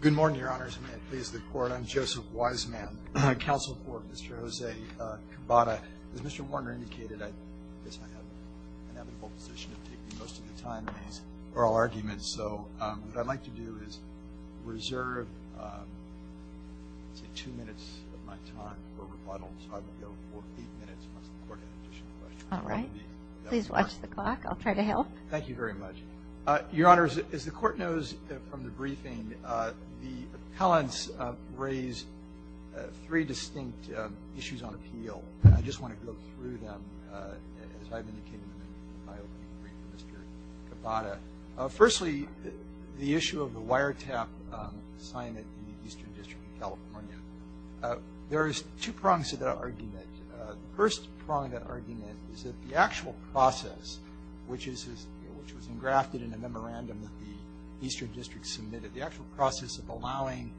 Good morning, Your Honors, and may it please the Court, I'm Joseph Wiseman, Counsel for Mr. Jose Cabada. As Mr. Warner indicated, I guess I have an inevitable position of taking most of the time in these oral arguments, so what I'd like to do is reserve, let's say, two minutes of my time for rebuttal, so I will go for eight minutes once the Court has additional questions. All right. Please watch the clock. I'll try to help. Thank you very much. Your Honors, as the Court knows from the briefing, the appellants raise three distinct issues on appeal. I just want to go through them as I've indicated them in my opening brief for Mr. Cabada. Firstly, the issue of the wiretap assignment in the Eastern District of California. There is two prongs to that argument. The first prong of that argument is that the actual process, which was engrafted in a memorandum that the Eastern District submitted, the actual process of allowing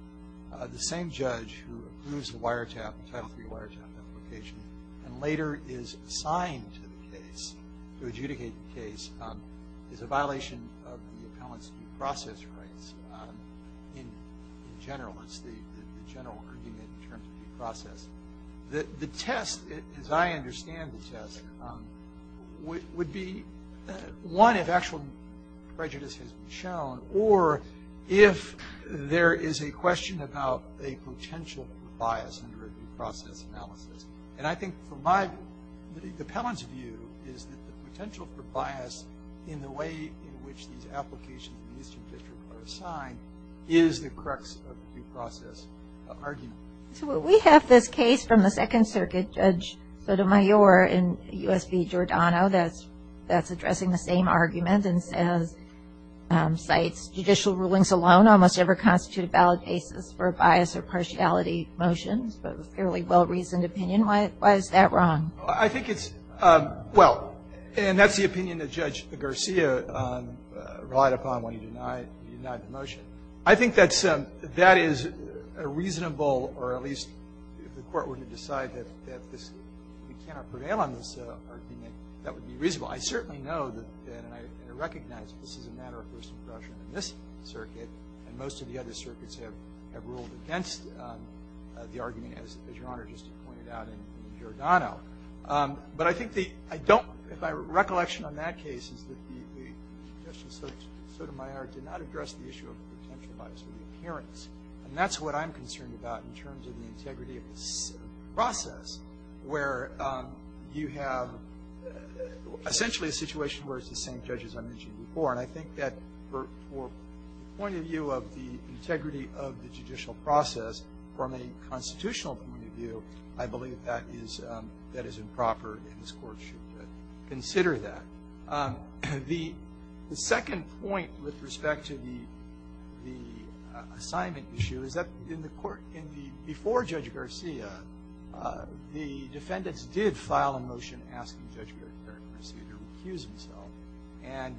the same judge who approves the Title III wiretap application and later is assigned to the case, to adjudicate the case, is a violation of the appellant's due process rights in general. It's the general argument in terms of due process. The test, as I understand the test, would be one, if actual prejudice has been shown, or if there is a question about a potential for bias under a due process analysis. And I think, from my, the appellant's view, is that the potential for bias in the way in which these applications in the Eastern District are assigned is the crux of the due process argument. So we have this case from the Second Circuit, Judge Sotomayor and U.S. v. Giordano, that's addressing the same argument and says, cites judicial rulings alone almost ever constitute a valid basis for a bias or partiality motion. Fairly well-reasoned opinion. Why is that wrong? I think it's, well, and that's the opinion that Judge Garcia relied upon when he denied the motion. I think that's, that is a reasonable, or at least if the Court were to decide that this, we cannot prevail on this argument, that would be reasonable. I certainly know that, and I recognize that this is a matter of first impression in this circuit, and most of the other circuits have ruled against the argument, as Your Honor just pointed out, in Giordano. But I think the, I don't, my recollection on that case is that the, Judge Sotomayor did not address the issue of the potential bias or the appearance. And that's what I'm concerned about in terms of the integrity of this process, where you have essentially a situation where it's the same judge as I mentioned before. And I think that for the point of view of the integrity of the judicial process, from a constitutional point of view, I believe that is improper and this Court should consider that. The second point with respect to the assignment issue is that in the Court, in the, before Judge Garcia, the defendants did file a motion asking Judge Garcia to recuse himself, and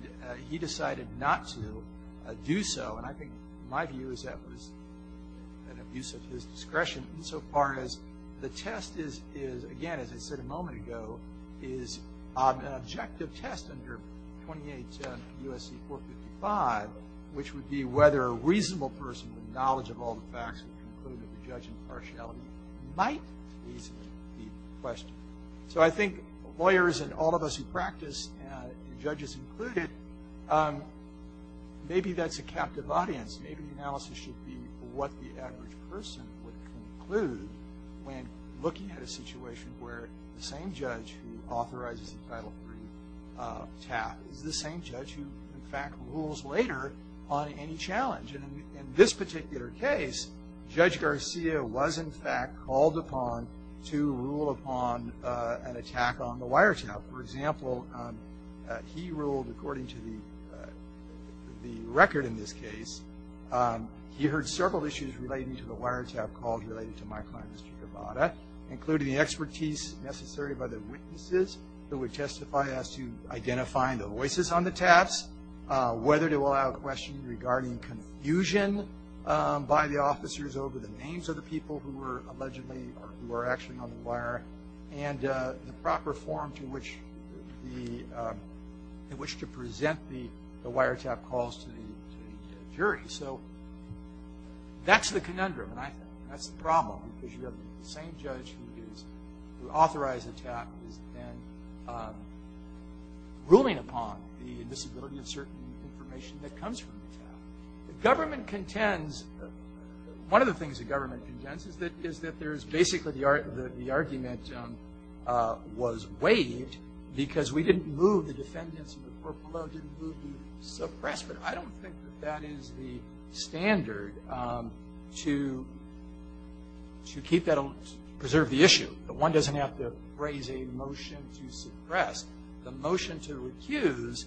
he decided not to do so. And I think my view is that was an abuse of his discretion insofar as the test is, again, as I said a moment ago, is an objective test under 28 U.S.C. 455, which would be whether a reasonable person with knowledge of all the facts that conclude that the judge impartiality might easily be questioned. So I think lawyers and all of us who practice, judges included, maybe that's a captive audience. Maybe the analysis should be what the average person would conclude when looking at a situation where the same judge who authorizes the title brief tap is the same judge who, in fact, rules later on any challenge. And in this particular case, Judge Garcia was, in fact, called upon to rule upon an attack on the wiretap. For example, he ruled according to the record in this case. He heard several issues relating to the wiretap called related to my client, Mr. Gavada, including the expertise necessary by the witnesses that would testify as to identifying the voices on the taps, whether to allow questions regarding confusion by the officers over the names of the people who were allegedly or who were actually on the wire, and the proper form in which to present the wiretap calls to the jury. So that's the conundrum. And I think that's the problem because you have the same judge who authorizes the tap and is then ruling upon the invisibility of certain information that comes from the tap. The government contends, one of the things the government contends is that there is basically the argument was waived because we didn't move the defendants in the court below, but I don't think that that is the standard to preserve the issue. One doesn't have to raise a motion to suppress. The motion to recuse,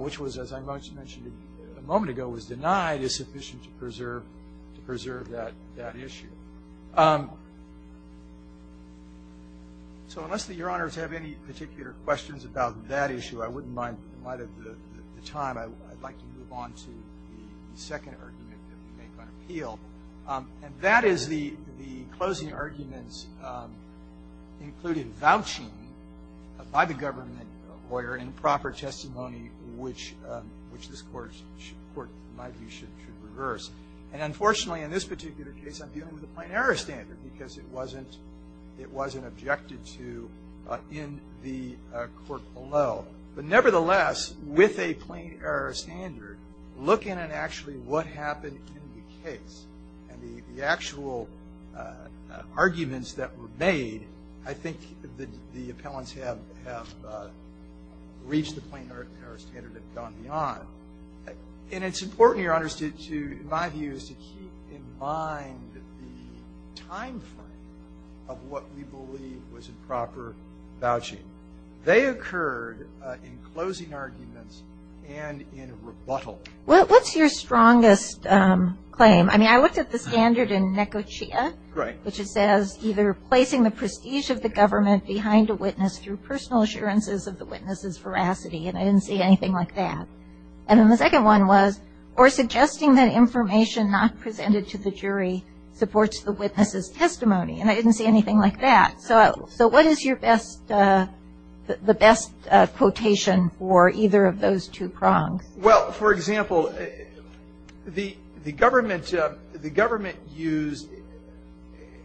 which was, as I mentioned a moment ago, was denied, is sufficient to preserve that issue. So unless Your Honors have any particular questions about that issue, I wouldn't mind, in light of the time, I'd like to move on to the second argument that we make on appeal. And that is the closing arguments included vouching by the government lawyer in proper testimony, which this Court, in my view, should reverse. And unfortunately, in this particular case, I'm dealing with a plain error standard because it wasn't objected to in the court below. But nevertheless, with a plain error standard, look in and actually what happened in the case. And the actual arguments that were made, I think the appellants have reached the plain error standard and gone beyond. And it's important, Your Honors, to, in my view, is to keep in mind the timeframe of what we believe was improper vouching. They occurred in closing arguments and in rebuttal. What's your strongest claim? I mean, I looked at the standard in NECOCHEA. Right. Which it says, either placing the prestige of the government behind a witness through personal assurances of the witness's veracity. And I didn't see anything like that. And then the second one was, or suggesting that information not presented to the jury supports the witness's testimony. And I didn't see anything like that. So what is your best quotation for either of those two prongs? Well, for example, the government used,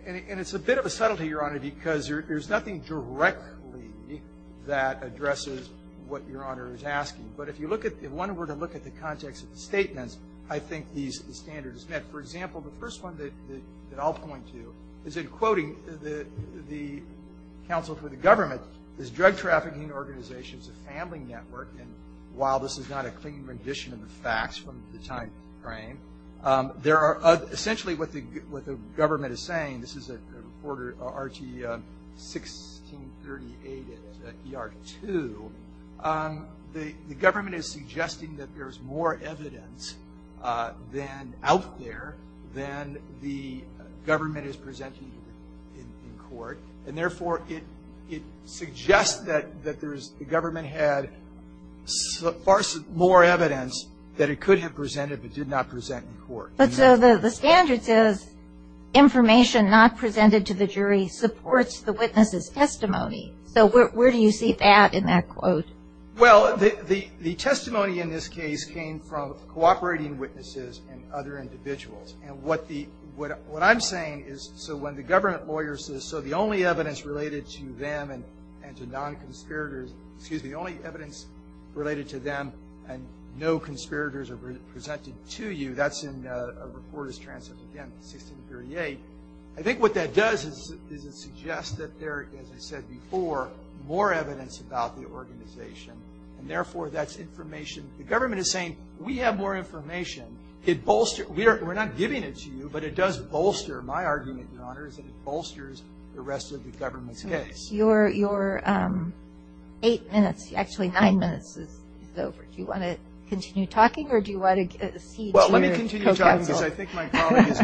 and it's a bit of a subtlety, Your Honor, because there's nothing directly that addresses what Your Honor is asking. But if you look at, if one were to look at the context of the statements, I think these standards met. For example, the first one that I'll point to is in quoting the counsel for the government, this drug trafficking organization's family network. And while this is not a clean rendition of the facts from the timeframe, there are essentially what the government is saying. This is a reporter, RT1638 at ER2. The government is suggesting that there's more evidence out there than the government is presenting in court. And therefore, it suggests that the government had far more evidence that it could have presented, but did not present in court. But so the standard says information not presented to the jury supports the witness's testimony. So where do you see that in that quote? Well, the testimony in this case came from cooperating witnesses and other individuals. And what I'm saying is so when the government lawyer says, so the only evidence related to them and to non-conspirators, excuse me, the only evidence related to them and no conspirators are presented to you, that's in a reporter's transcript, again, 1638. I think what that does is it suggests that there, as I said before, more evidence about the organization. And therefore, that's information. The government is saying we have more information. We're not giving it to you, but it does bolster, my argument, Your Honor, is that it bolsters the rest of the government's case. Your eight minutes, actually nine minutes is over. Well, let me continue talking because I think my colleague is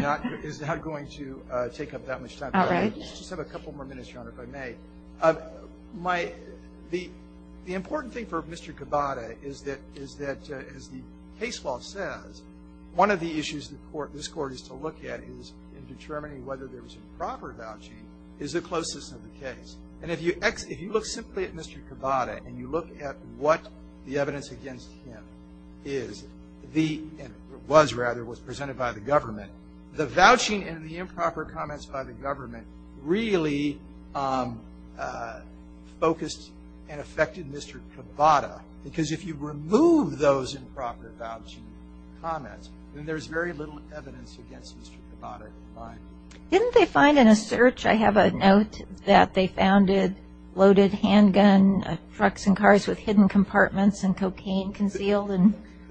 not going to take up that much time. Let's just have a couple more minutes, Your Honor, if I may. The important thing for Mr. Cabada is that, as the case law says, one of the issues this Court is to look at in determining whether there was improper vouching is the closeness of the case. And if you look simply at Mr. Cabada and you look at what the evidence against him is, was rather, was presented by the government, the vouching and the improper comments by the government really focused and affected Mr. Cabada. Because if you remove those improper vouching comments, then there's very little evidence against Mr. Cabada. Didn't they find in a search, I have a note, that they found loaded handgun trucks and cars with hidden compartments and cocaine concealed?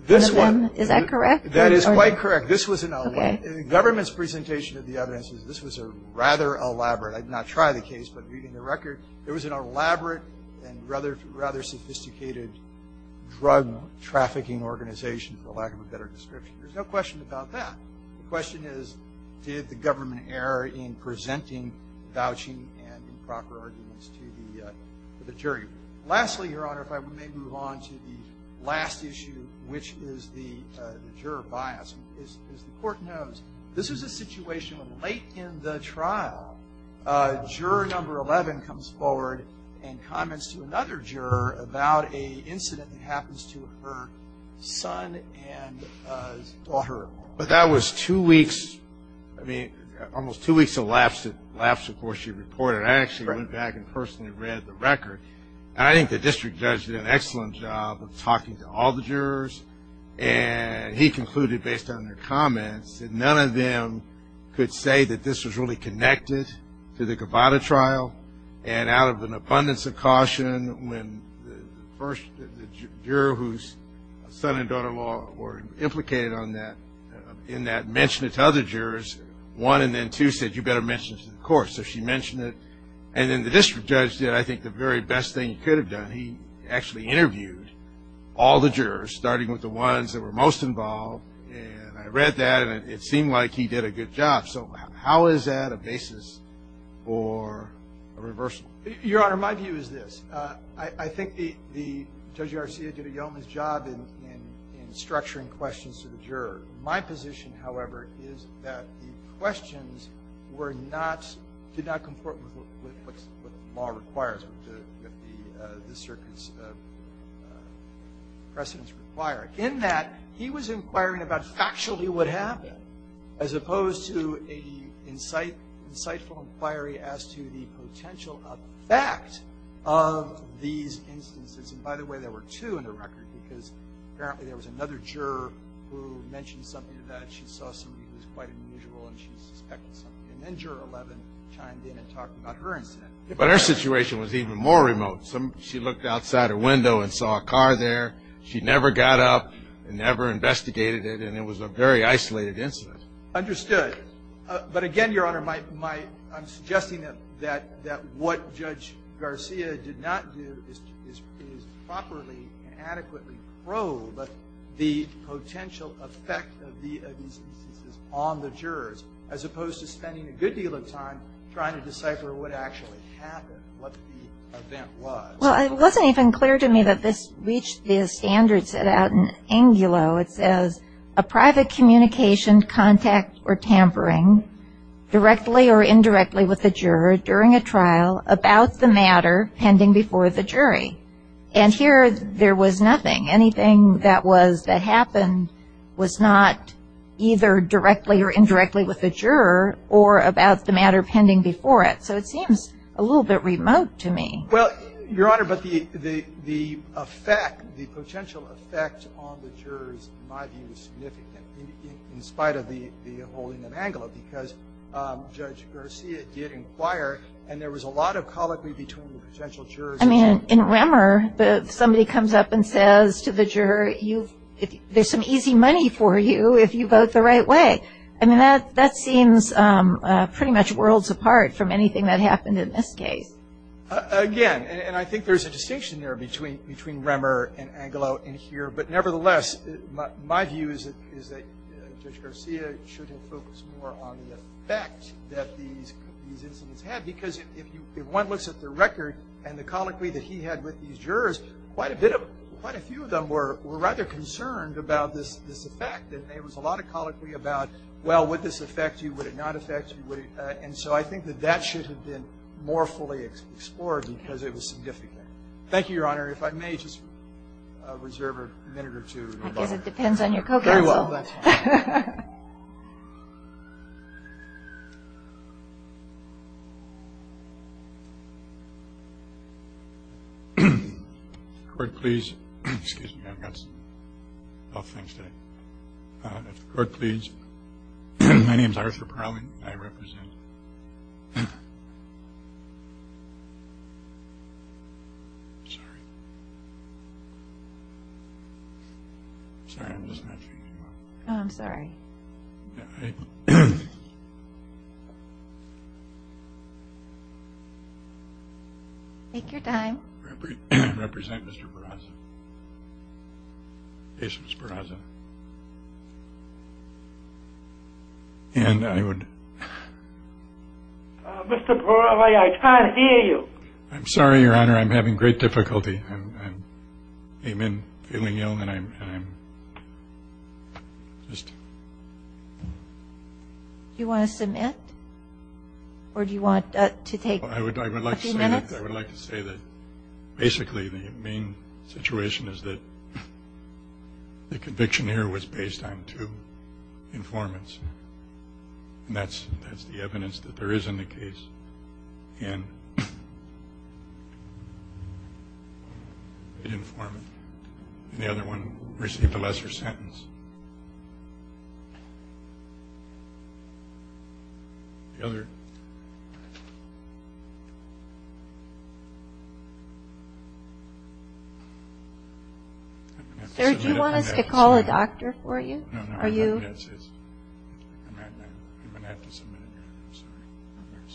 This one. Is that correct? That is quite correct. Okay. The government's presentation of the evidence is this was rather elaborate. I did not try the case, but reading the record, there was an elaborate and rather sophisticated drug trafficking organization, for lack of a better description. There's no question about that. The question is, did the government err in presenting vouching and improper arguments to the jury? Lastly, Your Honor, if I may move on to the last issue, which is the juror bias. As the Court knows, this is a situation late in the trial. Juror number 11 comes forward and comments to another juror about an incident that happens to her son and daughter. But that was two weeks, I mean, almost two weeks elapsed, elapsed before she reported. I actually went back and personally read the record. I think the district judge did an excellent job of talking to all the jurors. And he concluded, based on their comments, that none of them could say that this was really connected to the Gavada trial. And out of an abundance of caution, when the first juror whose son and daughter-in-law were implicated in that mentioned it to other jurors, so she mentioned it. And then the district judge did, I think, the very best thing he could have done. He actually interviewed all the jurors, starting with the ones that were most involved. And I read that, and it seemed like he did a good job. So how is that a basis for a reversal? Your Honor, my view is this. I think Judge Garcia did a yeoman's job in structuring questions to the juror. My position, however, is that the questions were not, did not comport with what the law requires, what the circuit's precedents require. In that, he was inquiring about factually what happened, as opposed to an insightful inquiry as to the potential effect of these instances. And by the way, there were two in the record, because apparently there was another juror who mentioned something to that. She saw somebody who was quite unusual, and she suspected something. And then Juror 11 chimed in and talked about her incident. But her situation was even more remote. She looked outside her window and saw a car there. She never got up and never investigated it, and it was a very isolated incident. Understood. But again, Your Honor, I'm suggesting that what Judge Garcia did not do is properly and adequately probe the potential effect of these instances on the jurors, as opposed to spending a good deal of time trying to decipher what actually happened, what the event was. Well, it wasn't even clear to me that this reached the standards set out in Angulo. It says, a private communication, contact, or tampering directly or indirectly with the juror during a trial about the matter pending before the jury. And here, there was nothing. Anything that happened was not either directly or indirectly with the juror or about the matter pending before it. So it seems a little bit remote to me. Well, Your Honor, but the effect, the potential effect on the jurors, in my view, is significant, in spite of the holding of Angulo, because Judge Garcia did inquire, and there was a lot of colloquy between the potential jurors. I mean, in Remmer, somebody comes up and says to the juror, there's some easy money for you if you vote the right way. I mean, that seems pretty much worlds apart from anything that happened in this case. Again, and I think there's a distinction there between Remmer and Angulo in here. But nevertheless, my view is that Judge Garcia should have focused more on the effect that these incidents had. Because if one looks at the record and the colloquy that he had with these jurors, quite a few of them were rather concerned about this effect. There was a lot of colloquy about, well, would this affect you? Would it not affect you? And so I think that that should have been more fully explored, because it was significant. Thank you, Your Honor. If I may just reserve a minute or two. I guess it depends on your co-counsel. Very well. That's fine. Court, please. Excuse me. I've got some tough things today. Court, please. My name is Arthur Parling. I represent... Sorry. Sorry, I'm just not sure you can hear me. Oh, I'm sorry. Take your time. I represent Mr. Barraza. Case was Barraza. And I would... Mr. Parley, I can't hear you. I'm sorry, Your Honor. I'm having great difficulty. I came in feeling ill, and I'm just... Do you want to submit? Or do you want to take a few minutes? I would like to say that basically the main situation is that the conviction here was based on two informants. And that's the evidence that there is in the case in the informant. And the other one received a lesser sentence. The other... Sir, do you want us to call a doctor for you? Are you... I'm going to have to submit it, Your Honor. I'm sorry. I'm very sorry.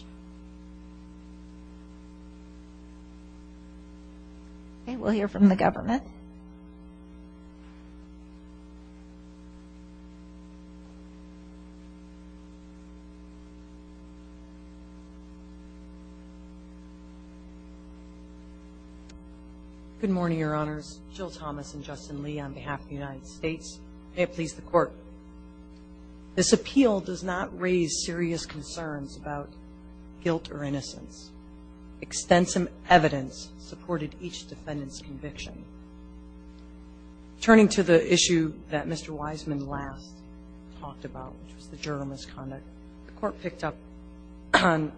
Okay, we'll hear from the government. Go ahead. Good morning, Your Honors. Jill Thomas and Justin Lee on behalf of the United States. May it please the Court. This appeal does not raise serious concerns about guilt or innocence. Extensive evidence supported each defendant's conviction. Turning to the issue that Mr. Wiseman last talked about, which was the jury misconduct, the Court picked up on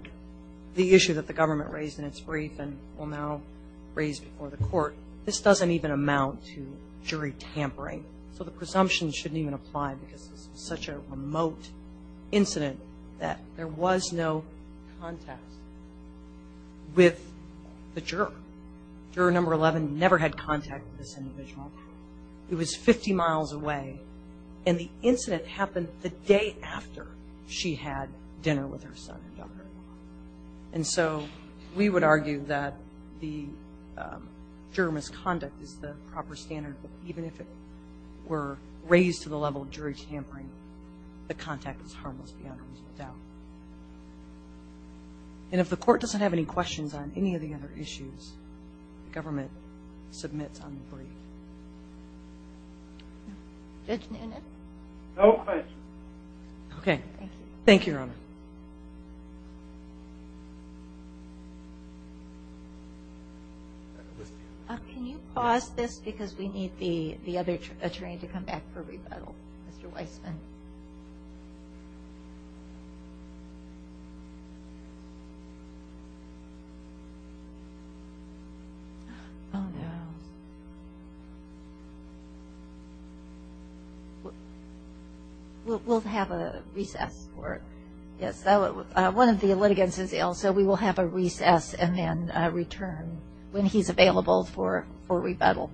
the issue that the government raised in its brief and will now raise before the Court. This doesn't even amount to jury tampering. So the presumption shouldn't even apply because this is such a remote incident that there was no contact with the juror. Juror number 11 never had contact with this individual. It was 50 miles away, and the incident happened the day after she had dinner with her son and daughter-in-law. And so we would argue that the juror misconduct is the proper standard, but even if it were raised to the level of jury tampering, the contact was harmless beyond a reasonable doubt. And if the Court doesn't have any questions on any of the other issues, the government submits on the brief. Judge Noonan? No questions. Okay. Thank you. Thank you, Your Honor. Can you pause this because we need the other attorney to come back for rebuttal, Mr. Wiseman? Okay. Oh, no. We'll have a recess for it. Yes, one of the litigants is ill, so we will have a recess and then a return when he's available for rebuttal.